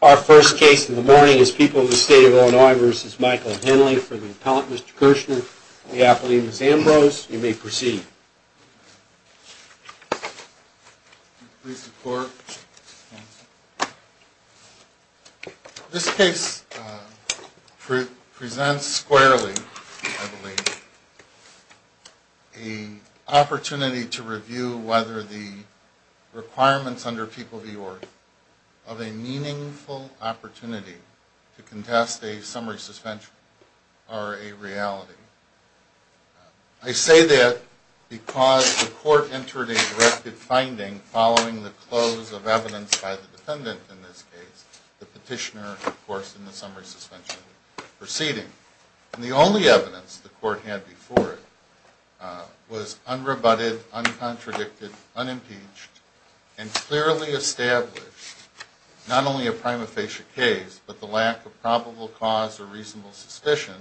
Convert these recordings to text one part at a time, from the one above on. Our first case in the morning is People in the State of Illinois v. Michael Henley. For the appellant, Mr. Kirshner, and the appellee, Ms. Ambrose, you may proceed. Mr. Kirshner This case presents squarely, I believe, an opportunity to review whether the requirements under People v. Orr are a meaningful opportunity to contest a summary suspension or a reality. I say that because the court entered a directed finding following the close of evidence by the defendant in this case, the petitioner, of course, in the summary suspension proceeding. And the only evidence the court had before it was unrebutted, uncontradicted, unimpeached, and clearly established not only a prima facie case, but the lack of probable cause or reasonable suspicion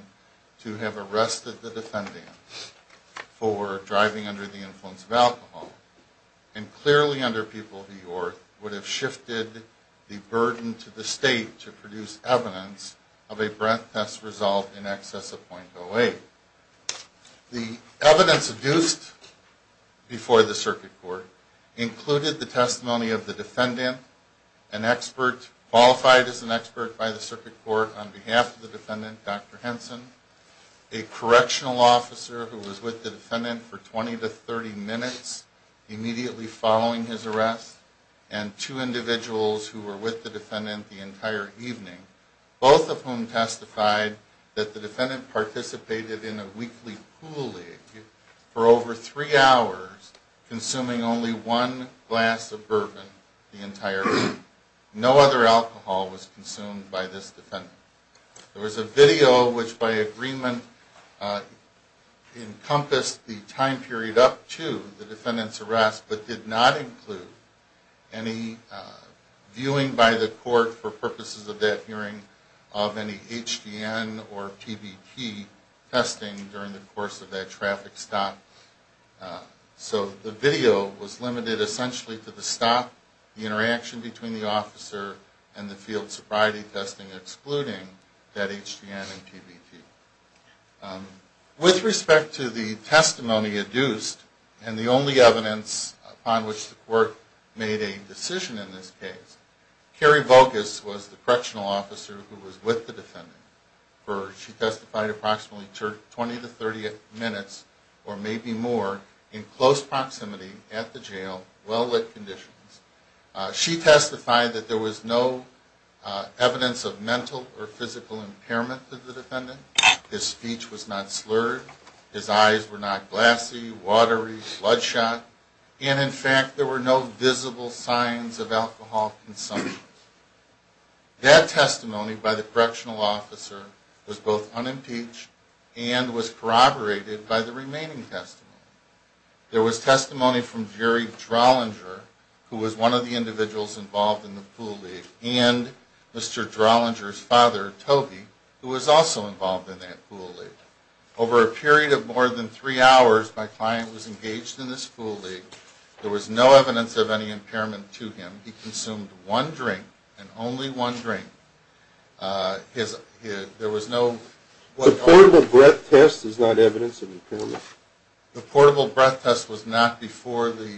to have arrested the defendant for driving under the influence of alcohol. And clearly under People v. Orr would have shifted the burden to the state to produce evidence of a breath test result in excess of .08. The evidence produced before the circuit court included the testimony of the defendant, qualified as an expert by the circuit court on behalf of the defendant, Dr. Henson, a correctional officer who was with the defendant for 20 to 30 minutes immediately following his arrest, and two individuals who were with the defendant the entire evening, both of whom testified that the defendant participated in a weekly pool league for over three hours, consuming only one glass of bourbon the entire week. No other alcohol was consumed by this defendant. There was a video which by agreement encompassed the time period up to the defendant's arrest, but did not include any viewing by the court for purposes of that hearing of any HDN or PBT testing during the course of that traffic stop. So the video was limited essentially to the stop, the interaction between the officer, and the field sobriety testing, excluding that HDN and PBT. With respect to the testimony adduced and the only evidence upon which the court made a decision in this case, Carrie Vogus was the correctional officer who was with the defendant. She testified approximately 20 to 30 minutes, or maybe more, in close proximity at the jail, well-lit conditions. She testified that there was no evidence of mental or physical impairment to the defendant, his speech was not slurred, his eyes were not glassy, watery, bloodshot, and in fact there were no visible signs of alcohol consumption. That testimony by the correctional officer was both unimpeached and was corroborated by the remaining testimony. There was testimony from Jerry Drollinger, who was one of the individuals involved in the pool league, and Mr. Drollinger's father, Toby, who was also involved in that pool league. Over a period of more than three hours, my client was engaged in this pool league, there was no evidence of any impairment to him, he consumed one drink, and only one drink, there was no... The portable breath test is not evidence of impairment? The portable breath test was not before the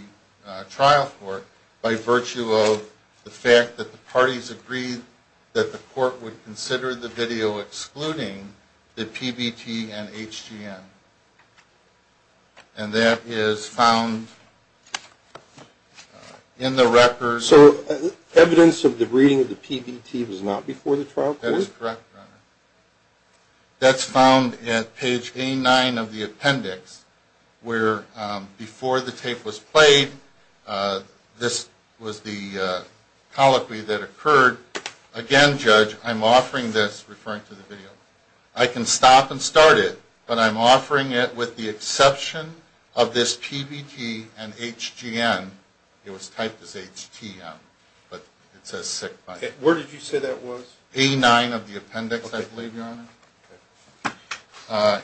trial court by virtue of the fact that the parties agreed that the court would consider the video excluding the PBT and HGM. And that is found in the records... So evidence of the reading of the PBT was not before the trial court? That is correct, Your Honor. That's found at page A9 of the appendix, where before the tape was played, this was the colloquy that occurred. Again, Judge, I'm offering this, referring to the video. I can stop and start it, but I'm offering it with the exception of this PBT and HGM. It was typed as HTM, but it says sick body. Where did you say that was? A9 of the appendix, I believe, Your Honor.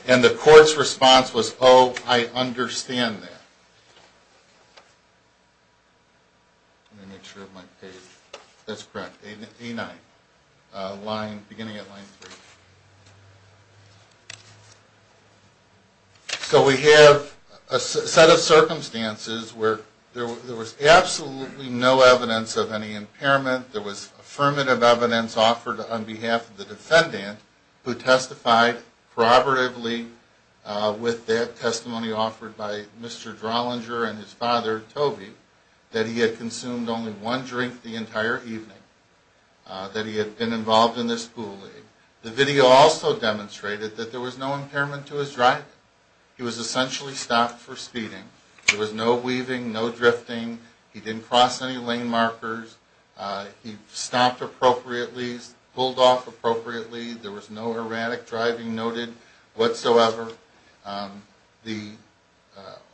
And the court's response was, oh, I understand that. Let me make sure of my page. That's correct, A9, beginning at line 3. So we have a set of circumstances where there was absolutely no evidence of any impairment. There was affirmative evidence offered on behalf of the defendant who testified probatively with that testimony offered by Mr. Drollinger and his father, Toby, that he had consumed only one drink the entire evening, that he had been involved in this bully. The video also demonstrated that there was no impairment to his driving. He was essentially stopped for speeding. There was no weaving, no drifting. He didn't cross any lane markers. He stopped appropriately, pulled off appropriately. There was no erratic driving noted whatsoever. The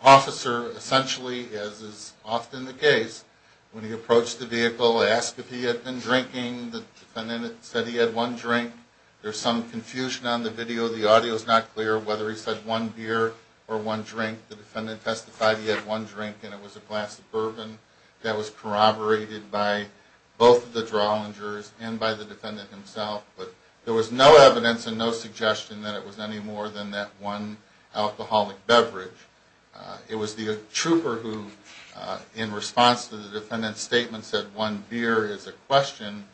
officer essentially, as is often the case, when he approached the vehicle, asked if he had been drinking. The defendant said he had one drink. There's some confusion on the video. The audio's not clear whether he said one beer or one drink. The defendant testified he had one drink, and it was a glass of bourbon that was corroborated by both the Drawlingers and by the defendant himself. But there was no evidence and no suggestion that it was any more than that one alcoholic beverage. It was the trooper who, in response to the defendant's statement, said one beer is a question.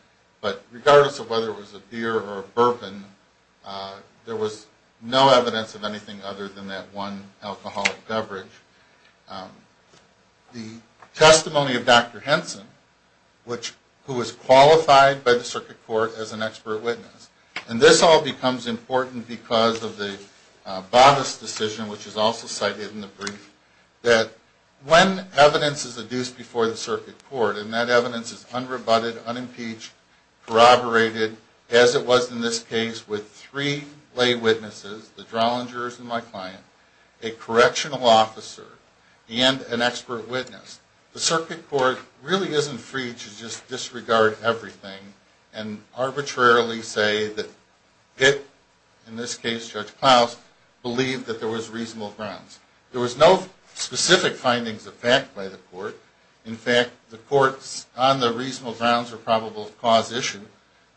But regardless of whether it was a beer or a bourbon, there was no evidence of anything other than that one alcoholic beverage. The testimony of Dr. Henson, who was qualified by the circuit court as an expert witness, and this all becomes important because of the bodice decision, which is also cited in the brief, that when evidence is adduced before the circuit court, and that evidence is unrebutted, unimpeached, corroborated, as it was in this case with three lay witnesses, the Drawlingers and my client, a correctional officer, and an expert witness, the circuit court really isn't free to just disregard everything and arbitrarily say that it, in this case Judge Klaus, believed that there was reasonable grounds. There was no specific findings of fact by the court. In fact, the courts on the reasonable grounds or probable cause issue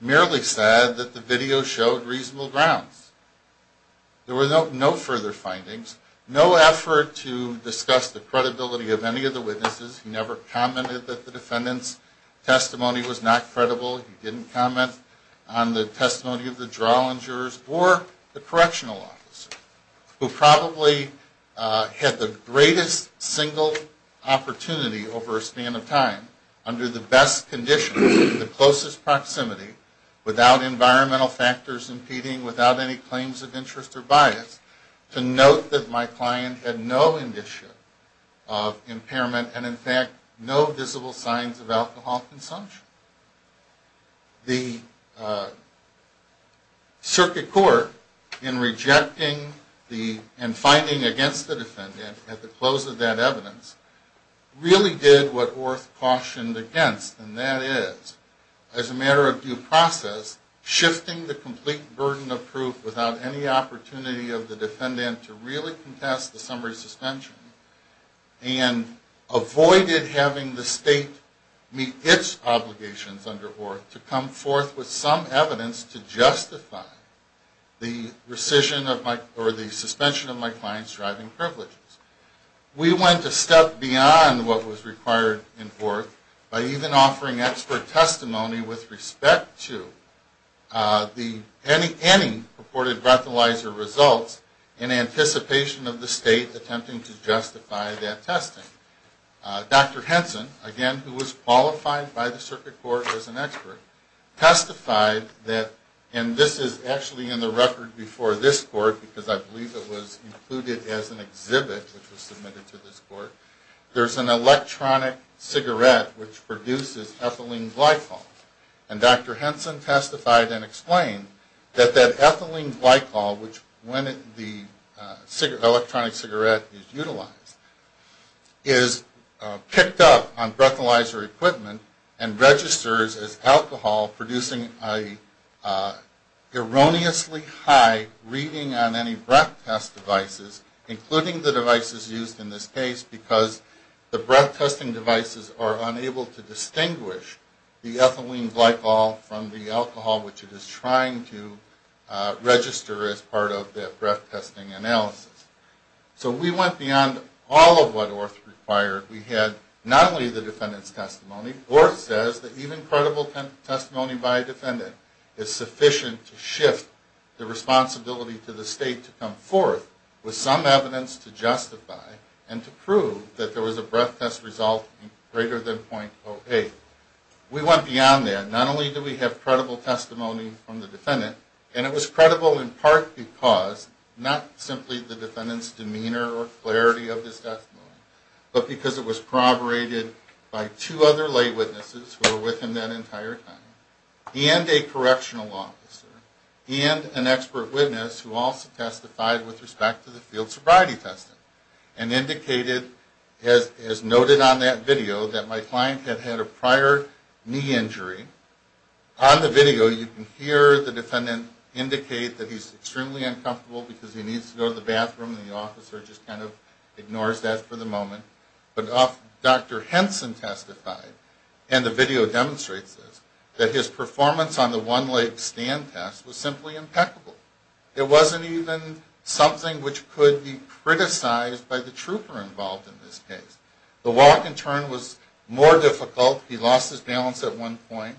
merely said that the video showed reasonable grounds. There were no further findings. No effort to discuss the credibility of any of the witnesses. He never commented that the defendant's testimony was not credible. He didn't comment on the testimony of the Drawlingers or the correctional officer, who probably had the greatest single opportunity over a span of time under the best conditions, in the closest proximity, without environmental factors impeding, without any claims of interest or bias, to note that my client had no indication of impairment and, in fact, no visible signs of alcohol consumption. The circuit court, in rejecting and finding against the defendant at the close of that evidence, really did what Orth cautioned against, and that is, as a matter of due process, shifting the complete burden of proof without any opportunity of the defendant to really contest the summary suspension, and avoided having the state meet its obligations under Orth to come forth with some evidence to justify the rescission of my, or the suspension of my client's driving privileges. We went a step beyond what was required in Orth by even offering expert testimony with respect to any purported breathalyzer results in anticipation of the state attempting to justify that testing. Dr. Henson, again, who was qualified by the circuit court as an expert, testified that, and this is actually in the record before this court, because I believe it was included as an exhibit, which was submitted to this court, there's an electronic cigarette which produces ethylene glycol. And Dr. Henson testified and explained that that ethylene glycol, which, when the electronic cigarette is utilized, is picked up on breathalyzer equipment and registers as alcohol, producing an erroneously high reading on any breath test devices, including the devices used in this case, because the breath testing devices are unable to distinguish the ethylene glycol from the alcohol which it is trying to register as part of that breath testing analysis. So we went beyond all of what Orth required. We had not only the defendant's testimony. Orth says that even credible testimony by a defendant is sufficient to shift the responsibility to the state to come forth with some evidence to justify and to prove that there was a breath test result greater than .08. We went beyond that. Not only do we have credible testimony from the defendant, and it was credible in part because, not simply the defendant's demeanor or clarity of his testimony, but because it was corroborated by two other lay witnesses who were with him that entire time, and a correctional officer, and an expert witness who also testified with respect to the field sobriety testing, and indicated, as noted on that video, that my client had had a prior knee injury. On the video, you can hear the defendant indicate that he's extremely uncomfortable because he needs to go to the bathroom, and the officer just kind of ignores that for the moment. But Dr. Henson testified, and the video demonstrates this, that his performance on the one-leg stand test was simply impeccable. It wasn't even something which could be criticized by the trooper involved in this case. The walk and turn was more difficult. He lost his balance at one point.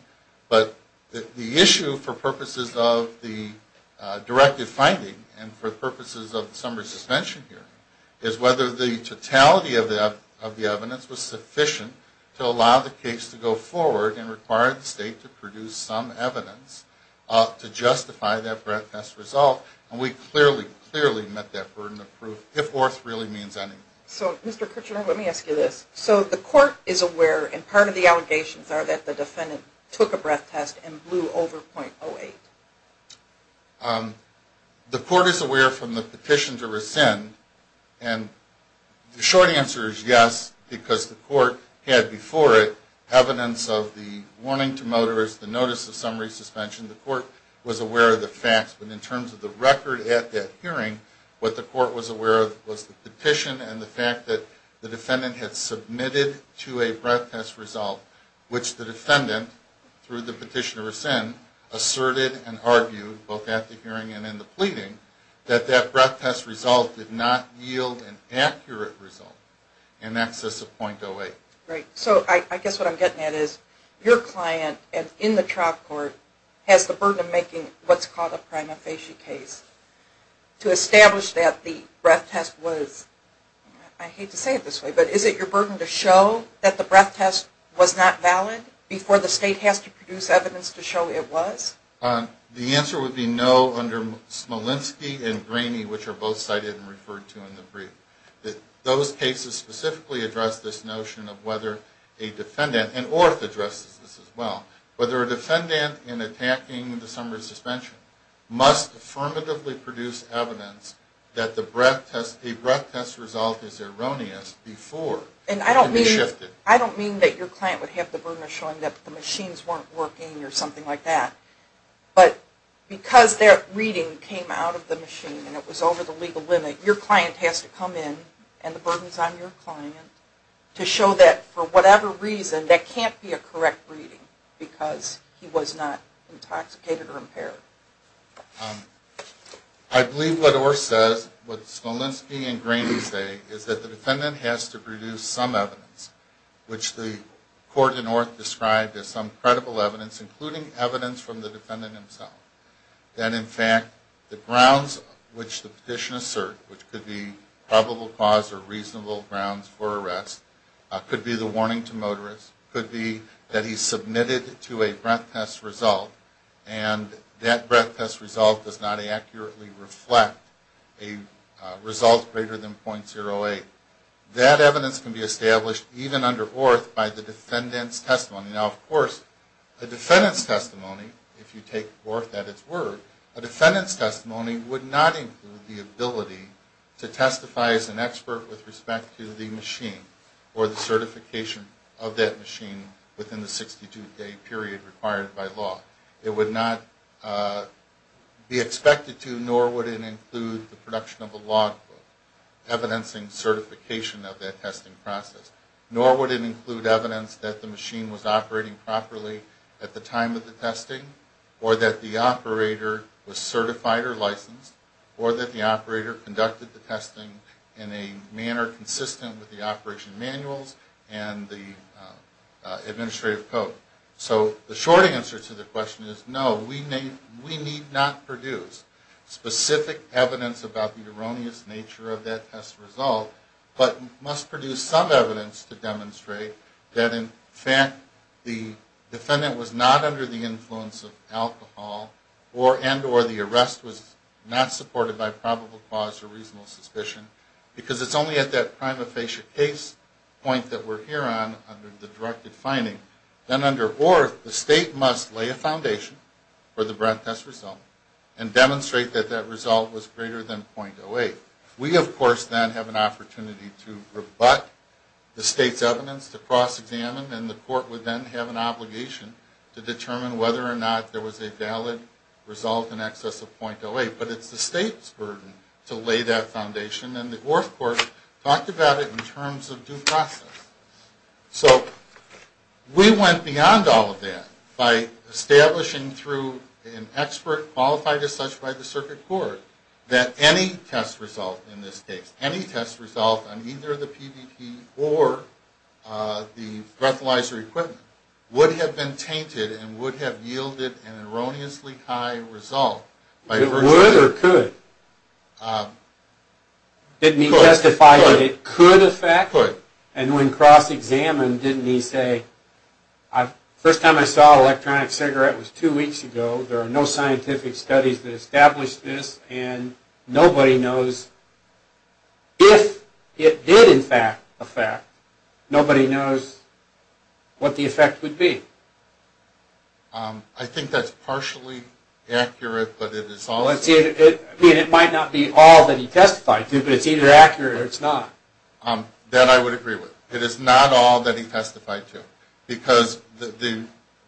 But the issue, for purposes of the directive finding and for purposes of the summary suspension hearing, is whether the totality of the evidence was sufficient to allow the case to go forward and require the state to produce some evidence to justify that breath test result. And we clearly, clearly met that burden of proof, if worth really means anything. So, Mr. Kirchner, let me ask you this. So the court is aware, and part of the allegations are that the defendant took a breath test and blew over 0.08? The court is aware from the petition to rescind, and the short answer is yes, because the court had before it evidence of the warning to motorists, the notice of summary suspension. The court was aware of the facts. But in terms of the record at that hearing, what the court was aware of was the petition and the fact that the defendant had submitted to a breath test result, which the defendant, through the petition to rescind, asserted and argued, both at the hearing and in the pleading, that that breath test result did not yield an accurate result in excess of 0.08. Great. So I guess what I'm getting at is your client, in the trial court, has the burden of making what's called a prima facie case to establish that the breath test was, I hate to say it this way, but is it your burden to show that the breath test was not valid before the state has to produce evidence to show it was? The answer would be no under Smolenski and Graney, which are both cited and referred to in the brief. Those cases specifically address this notion of whether a defendant, and Orth addresses this as well, whether a defendant, in attacking the summary suspension, must affirmatively produce evidence that a breath test result is erroneous before it can be shifted. I don't mean that your client would have the burden of showing that the machines weren't working or something like that, but because that reading came out of the machine and it was over the legal limit, your client has to come in and the burden is on your client to show that for whatever reason that can't be a correct reading because he was not intoxicated or impaired. I believe what Orth says, what Smolenski and Graney say, is that the defendant has to produce some evidence, which the court in Orth described as some credible evidence, including evidence from the defendant himself, that in fact the grounds which the petition assert, which could be probable cause or reasonable grounds for arrest, could be the warning to motorists, could be that he submitted to a breath test result, and that breath test result does not accurately reflect a result greater than .08. That evidence can be established even under Orth by the defendant's testimony. Now, of course, a defendant's testimony, if you take Orth at its word, a defendant's testimony would not include the ability to testify as an expert with respect to the machine or the certification of that machine within the 62-day period required by law. It would not be expected to, nor would it include the production of a log book evidencing certification of that testing process. Nor would it include evidence that the machine was operating properly at the time of the testing or that the operator was certified or licensed or that the operator conducted the testing in a manner consistent with the operation manuals and the administrative code. So the short answer to the question is no. We need not produce specific evidence about the erroneous nature of that test result, but must produce some evidence to demonstrate that in fact the defendant was not under the influence of alcohol and or the arrest was not supported by probable cause or reasonable suspicion because it's only at that prima facie case point that we're here on under the directed finding that under Orth the state must lay a foundation for the breath test result and demonstrate that that result was greater than .08. We, of course, then have an opportunity to rebut the state's evidence to cross-examine and the court would then have an obligation to determine whether or not there was a valid result in excess of .08. But it's the state's burden to lay that foundation and the Orth court talked about it in terms of due process. So we went beyond all of that by establishing through an expert qualified as such by the circuit court that any test result in this case, any test result on either the PDT or the breathalyzer equipment would have been tainted and would have yielded an erroneously high result. It would or could? Could. Didn't he testify that it could affect? Could. And when cross-examined, didn't he say, the first time I saw an electronic cigarette was two weeks ago, there are no scientific studies that establish this, and nobody knows if it did, in fact, affect. Nobody knows what the effect would be. I think that's partially accurate, but it is all... It might not be all that he testified to, but it's either accurate or it's not. That I would agree with. It is not all that he testified to.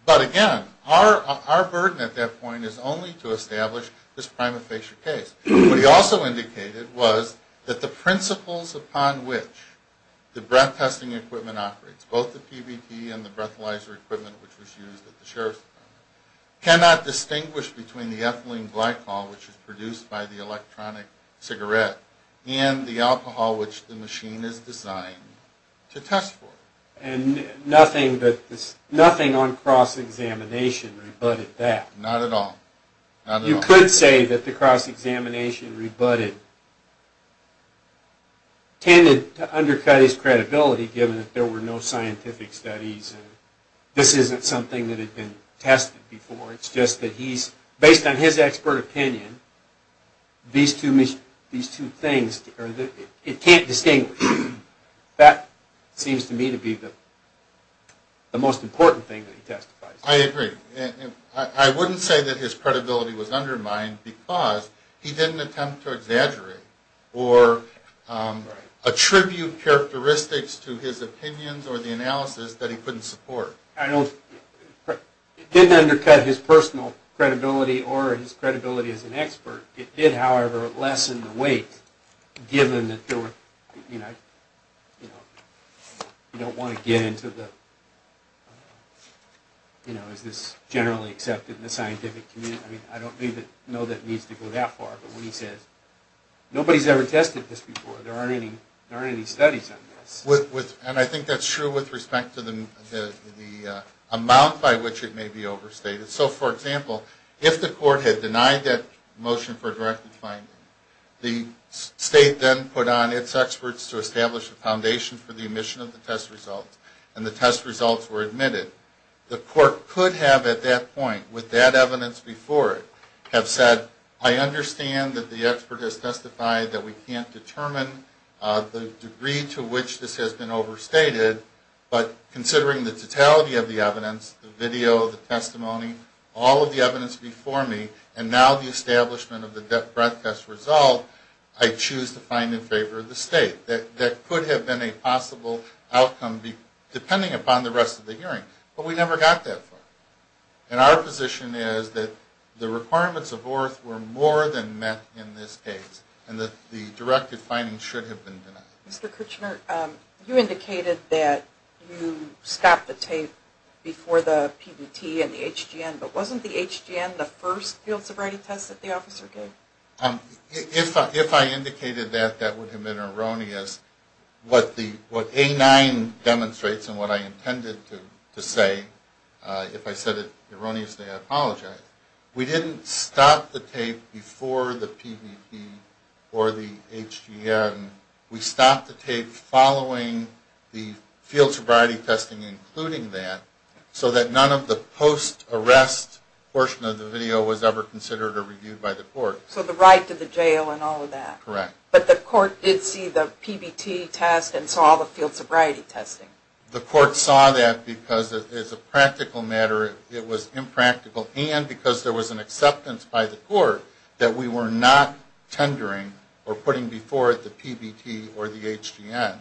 But again, our burden at that point is only to establish this prima facie case. What he also indicated was that the principles upon which the breath testing equipment operates, both the PDT and the breathalyzer equipment which was used at the Sheriff's Department, cannot distinguish between the ethylene glycol which is produced by the electronic cigarette and the alcohol which the machine is designed to test for. And nothing on cross-examination rebutted that. Not at all. You could say that the cross-examination rebutted tended to undercut his credibility, given that there were no scientific studies. This isn't something that had been tested before. It's just that based on his expert opinion, these two things, it can't distinguish. That seems to me to be the most important thing that he testified to. I agree. I wouldn't say that his credibility was undermined because he didn't attempt to exaggerate or attribute characteristics to his opinions or the analysis that he couldn't support. It didn't undercut his personal credibility or his credibility as an expert. It did, however, lessen the weight, given that there were, you know, you don't want to get into the, you know, is this generally accepted in the scientific community. I mean, I don't even know that it needs to go that far. But when he says, nobody's ever tested this before. There aren't any studies on this. And I think that's true with respect to the amount by which it may be overstated. So, for example, if the court had denied that motion for directed finding, the state then put on its experts to establish a foundation for the omission of the test results, and the test results were admitted, the court could have at that point, with that evidence before it, have said, I understand that the expert has testified that we can't determine the degree to which this has been overstated, but considering the totality of the evidence, the video, the testimony, all of the evidence before me, and now the establishment of the breath test result, I choose to find in favor of the state. That could have been a possible outcome depending upon the rest of the hearing. But we never got that far. And our position is that the requirements of ORTH were more than met in this case, and that the directed finding should have been denied. Mr. Kirchner, you indicated that you stopped the tape before the PBT and the HGN, but wasn't the HGN the first field sobriety test that the officer gave? If I indicated that, that would have been erroneous. What A9 demonstrates and what I intended to say, if I said it erroneously, I apologize. We didn't stop the tape before the PBT or the HGN. We stopped the tape following the field sobriety testing including that, so that none of the post-arrest portion of the video was ever considered or reviewed by the court. So the right to the jail and all of that? Correct. But the court did see the PBT test and saw all the field sobriety testing? The court saw that because, as a practical matter, it was impractical, and because there was an acceptance by the court that we were not tendering or putting before it the PBT or the HGN.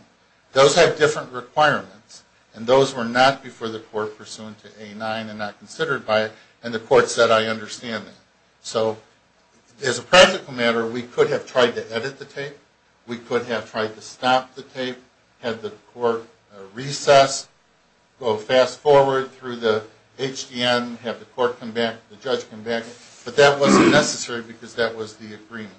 Those have different requirements, and those were not before the court pursuant to A9 and not considered by it. And the court said, I understand that. So, as a practical matter, we could have tried to edit the tape. We could have tried to stop the tape, had the court recess, go fast forward through the HGN, have the court come back, the judge come back. But that wasn't necessary because that was the agreement.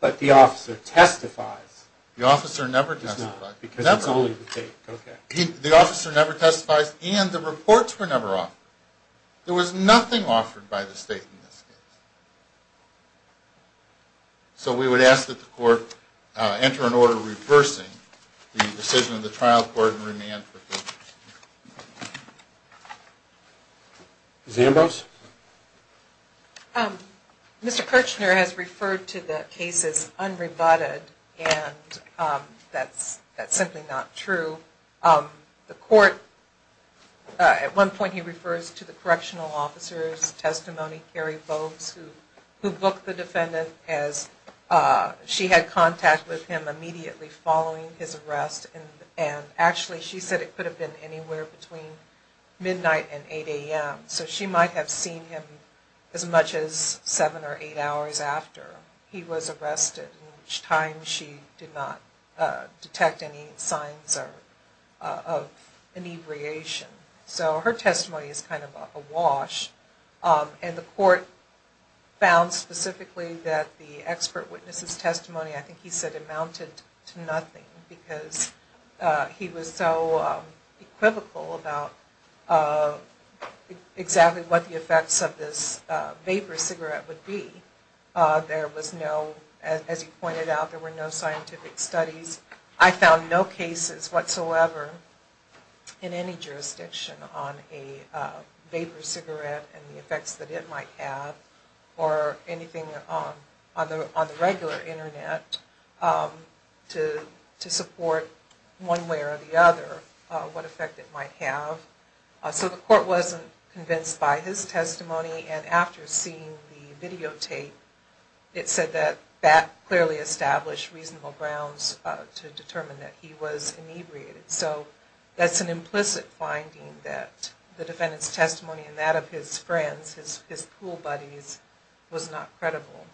But the officer testifies. The officer never testifies. No, because it's only the tape. Okay. The officer never testifies, and the reports were never offered. There was nothing offered by the state in this case. So we would ask that the court enter an order reversing the decision of the trial court and remand proceedings. Ms. Ambrose? Mr. Kirchner has referred to the case as unrebutted, and that's simply not true. The court, at one point he refers to the correctional officer's testimony, Carrie Bogues, who booked the defendant as she had contact with him immediately following his arrest. And actually she said it could have been anywhere between midnight and 8 a.m. So she might have seen him as much as seven or eight hours after he was arrested, in which time she did not detect any signs of inebriation. So her testimony is kind of a wash. And the court found specifically that the expert witness' testimony, I think he said, amounted to nothing because he was so equivocal about exactly what the effects of this vapor cigarette would be. There was no, as he pointed out, there were no scientific studies. I found no cases whatsoever in any jurisdiction on a vapor cigarette and the effects that it might have, or anything on the regular Internet to support one way or the other what effect it might have. So the court wasn't convinced by his testimony and after seeing the videotape, it said that that clearly established reasonable grounds to determine that he was inebriated. So that's an implicit finding that the defendant's testimony and that of his friends, his pool buddies, was not credible.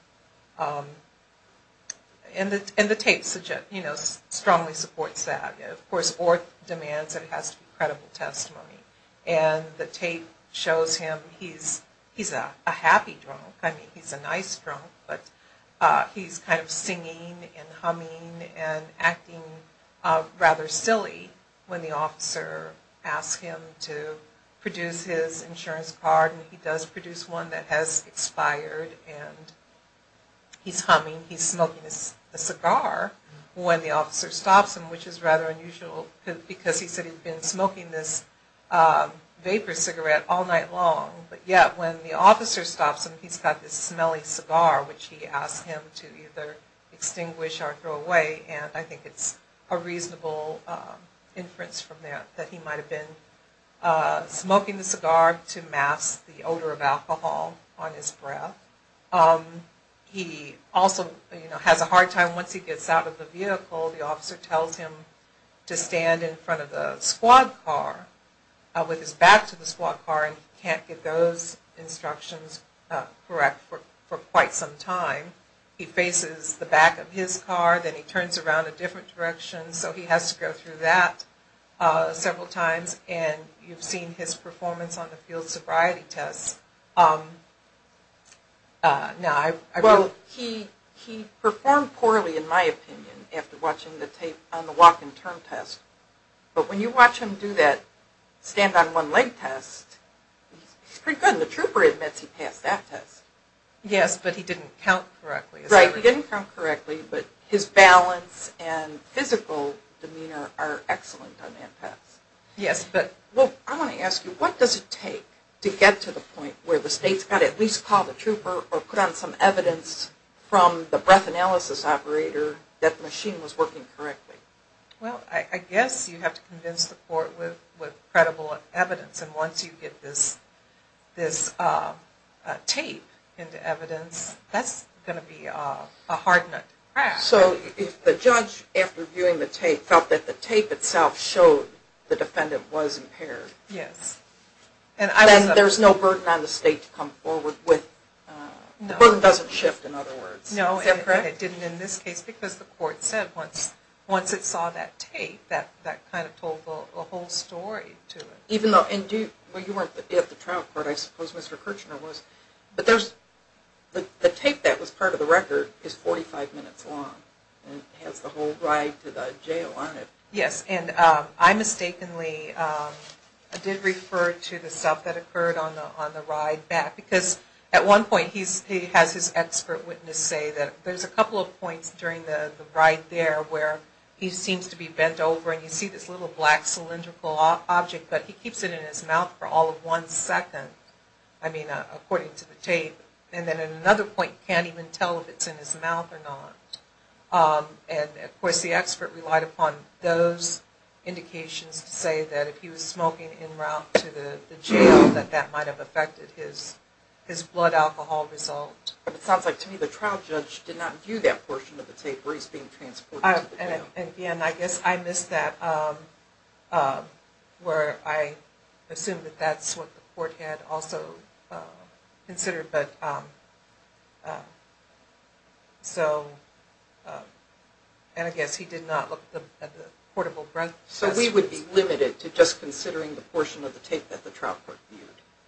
And the tape strongly supports that. Of course, Orth demands that it has to be credible testimony. And the tape shows him, he's a happy drunk, I mean, he's a nice drunk, but he's kind of singing and humming and acting rather silly when the officer asks him to produce his insurance card and he does produce one that has expired and he's humming, he's smoking a cigar when the officer stops him, which is rather unusual because he said he'd been smoking this vapor cigarette all night long, but yet when the officer stops him, he's got this smelly cigar which he asked him to either extinguish or throw away and I think it's a reasonable inference from that that he might have been smoking the cigar to mask the odor of alcohol on his breath. He also has a hard time once he gets out of the vehicle, the officer tells him to stand in front of the squad car, with his back to the squad car and he can't get those instructions correct for quite some time. He faces the back of his car, then he turns around a different direction, so he has to go through that several times and you've seen his performance on the field sobriety test. He performed poorly in my opinion after watching the tape on the walk and turn test, but when you watch him do that stand on one leg test, he's pretty good and the trooper admits he passed that test. Yes, but he didn't count correctly. Right, he didn't count correctly, but his balance and physical demeanor are excellent on that test. I want to ask you, what does it take to get to the point where the state's got to at least call the trooper or put on some evidence from the breath analysis operator that the machine was working correctly? Well, I guess you have to convince the court with credible evidence and once you get this tape into evidence, that's going to be a hard nut to crack. So if the judge, after viewing the tape, felt that the tape itself showed the defendant was impaired, then there's no burden on the state to come forward with, the burden doesn't shift in other words. No, it didn't in this case because the court said once it saw that tape, that kind of told the whole story to it. Even though, you weren't at the trial court, I suppose Mr. Kirchner was, but the tape that was part of the record is 45 minutes long. It has the whole ride to the jail on it. Yes, and I mistakenly did refer to the stuff that occurred on the ride back because at one point he has his expert witness say that there's a couple of points during the ride there where he seems to be bent over and you see this little black cylindrical object, but he keeps it in his mouth for all of one second, I mean according to the tape, and then at another point can't even tell if it's in his mouth or not. And of course the expert relied upon those indications to say that if he was smoking en route to the jail that that might have affected his blood alcohol result. It sounds like to me the trial judge did not view that portion of the tape where he's being transported to the jail. And again, I guess I missed that where I assumed that that's what the court had also considered, but so, and I guess he did not look at the portable breath test. So we would be limited to just considering the portion of the tape that the trial court viewed.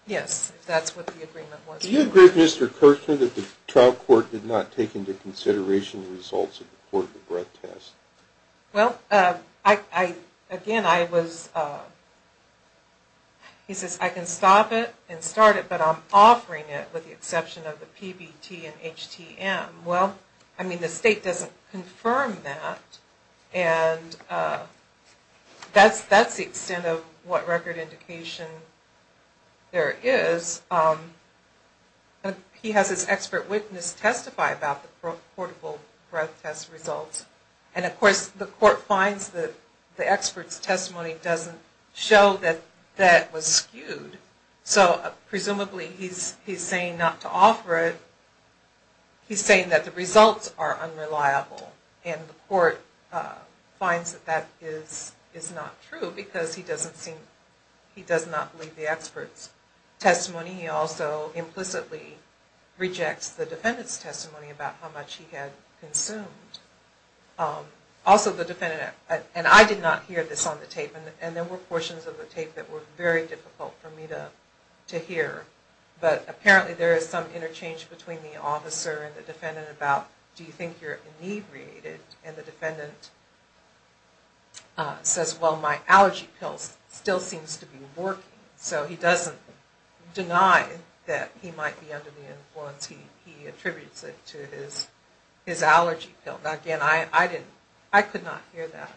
Yes, if that's what the agreement was. Do you agree with Mr. Kirchner that the trial court did not take into consideration the results of the portable breath test? Well, again, I was, he says I can stop it and start it, but I'm offering it with the exception of the PBT and HTM. Well, I mean the state doesn't confirm that, and that's the extent of what record indication there is. He has his expert witness testify about the portable breath test results, and of course the court finds that the expert's testimony doesn't show that that was skewed. So presumably he's saying not to offer it. He's saying that the results are unreliable, and the court finds that that is not true because he doesn't seem, he does not believe the expert's testimony, and he also implicitly rejects the defendant's testimony about how much he had consumed. Also the defendant, and I did not hear this on the tape, and there were portions of the tape that were very difficult for me to hear. But apparently there is some interchange between the officer and the defendant about do you think you're inebriated, and the defendant says, well, my allergy pill still seems to be working. So he doesn't deny that he might be under the influence. He attributes it to his allergy pill. Again, I could not hear that.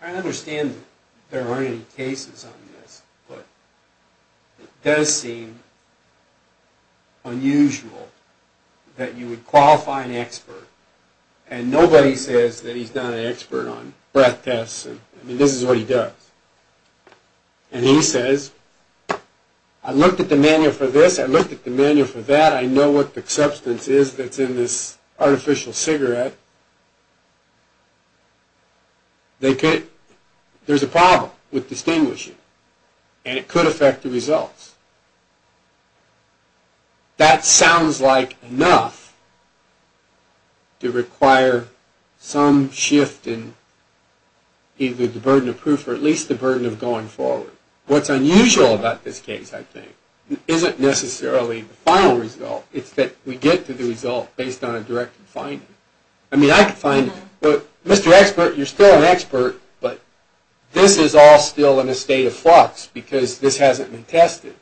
I understand there aren't any cases on this, but it does seem unusual that you would qualify an expert, and nobody says that he's not an expert on breath tests, and this is what he does. And he says, I looked at the manual for this, I looked at the manual for that, I know what the substance is that's in this artificial cigarette. There's a problem with distinguishing, and it could affect the results. That sounds like enough to require some shift in either the burden of proof or at least the burden of going forward. What's unusual about this case, I think, isn't necessarily the final result. It's that we get to the result based on a direct finding. I mean, I could find, Mr. Expert, you're still an expert, but this is all still in a state of flux because this hasn't been tested.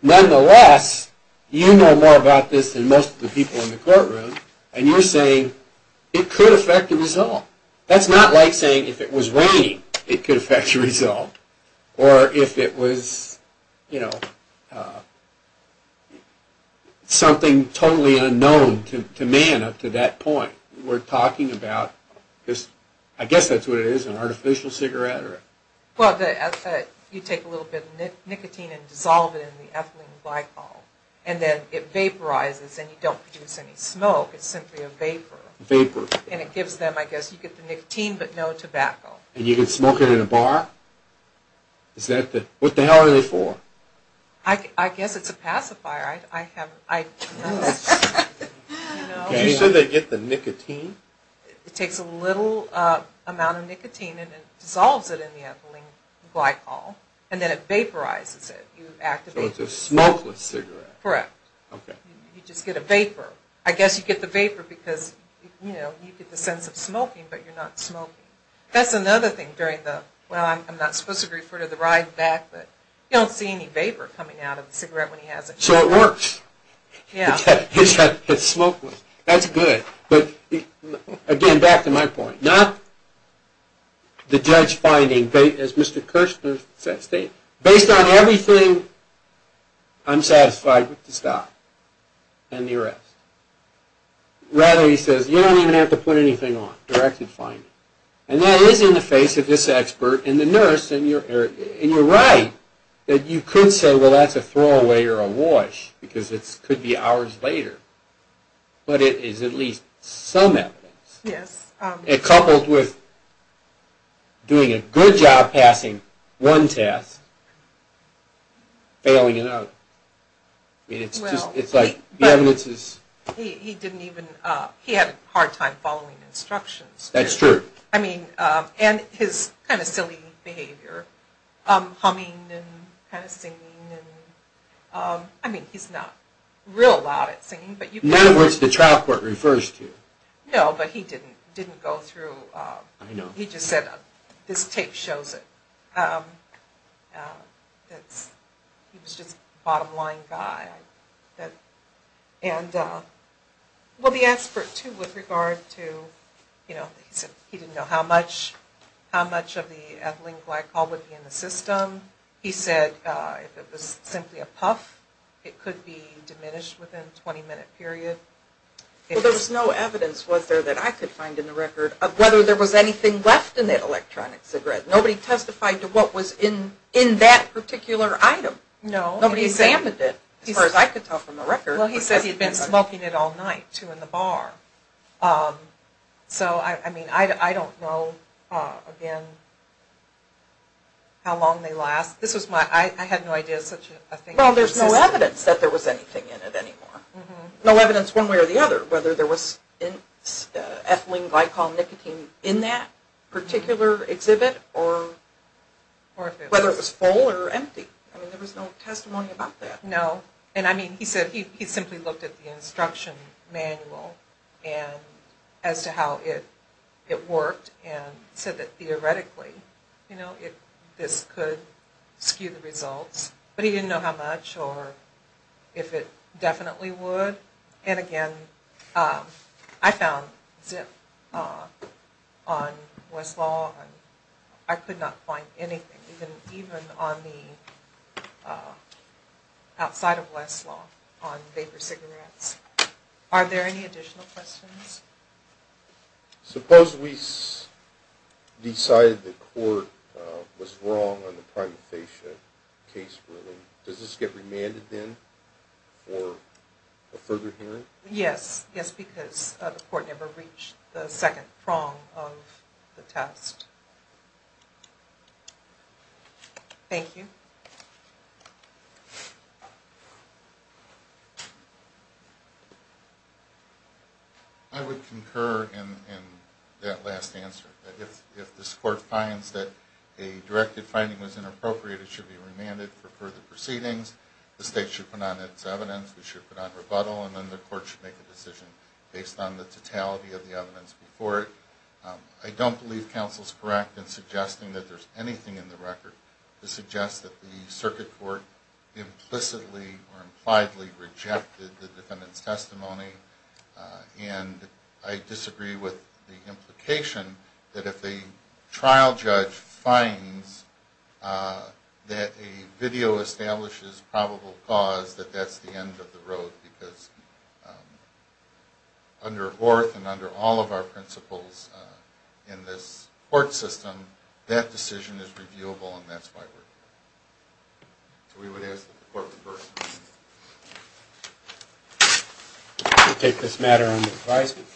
Nonetheless, you know more about this than most of the people in the courtroom, and you're saying it could affect the result. That's not like saying if it was raining, it could affect the result, or if it was, you know, something totally unknown to man up to that point. We're talking about this, I guess that's what it is, an artificial cigarette? Well, you take a little bit of nicotine and dissolve it in the ethylene glycol, and then it vaporizes, and you don't produce any smoke, it's simply a vapor. Vapor. And it gives them, I guess, you get the nicotine, but no tobacco. And you can smoke it in a bar? What the hell are they for? I guess it's a pacifier. I don't know. You said they get the nicotine? It takes a little amount of nicotine and it dissolves it in the ethylene glycol, and then it vaporizes it. So it's a smokeless cigarette? Correct. Okay. You just get a vapor. I guess you get the vapor because, you know, you get the sense of smoking, but you're not smoking. That's another thing during the, well, I'm not supposed to refer to the ride back, but you don't see any vapor coming out of the cigarette when he has it. So it works. Yeah. It's smokeless. That's good. But, again, back to my point. Not the judge finding, as Mr. Kirschner said, based on everything, I'm satisfied with the stop and the arrest. Rather, he says, you don't even have to put anything on. Directed finding. And that is in the face of this expert and the nurse, and you're right that you could say, well, that's a throwaway or a wash because it could be hours later. But it is at least some evidence. Yes. Coupled with doing a good job passing one test, failing another. I mean, it's just, it's like the evidence is. He didn't even, he had a hard time following instructions. That's true. I mean, and his kind of silly behavior. Humming and kind of singing. I mean, he's not real loud at singing. In other words, the trial court refers to. No, but he didn't go through. I know. He just said, this tape shows it. He was just a bottom line guy. And, well, the expert, too, with regard to, you know, he said he didn't know how much of the ethylene glycol would be in the system. He said if it was simply a puff, it could be diminished within a 20-minute period. Well, there was no evidence, was there, that I could find in the record of whether there was anything left in that electronic cigarette. Nobody testified to what was in that particular item. No. Nobody examined it, as far as I could tell from the record. Well, he said he had been smoking it all night, too, in the bar. So, I mean, I don't know, again, how long they last. I had no idea such a thing existed. Well, there's no evidence that there was anything in it anymore. No evidence one way or the other whether there was ethylene glycol nicotine in that particular exhibit or whether it was full or empty. I mean, there was no testimony about that. No. And, I mean, he said he simply looked at the instruction manual as to how it worked and said that theoretically, you know, this could skew the results. But he didn't know how much or if it definitely would. And, again, I found zip on Westlaw. I could not find anything even on the outside of Westlaw on vapor cigarettes. Are there any additional questions? Suppose we decided the court was wrong on the prima facie case ruling. Does this get remanded then for a further hearing? Yes. Yes, because the court never reached the second prong of the test. Thank you. I would concur in that last answer. If this court finds that a directive finding was inappropriate, it should be remanded for further proceedings. The state should put on its evidence. We should put on rebuttal. And then the court should make a decision based on the totality of the evidence before it. I don't believe counsel's correct in suggesting that there's anything in the record to suggest that the circuit court implicitly or impliedly rejected the defendant's testimony. And I disagree with the implication that if a trial judge finds that a video establishes probable cause, that that's the end of the road because under Horth and under all of our principles in this court system, that decision is reviewable and that's why we're here. So we would ask that the court reverse the ruling. We'll take this matter under advisement.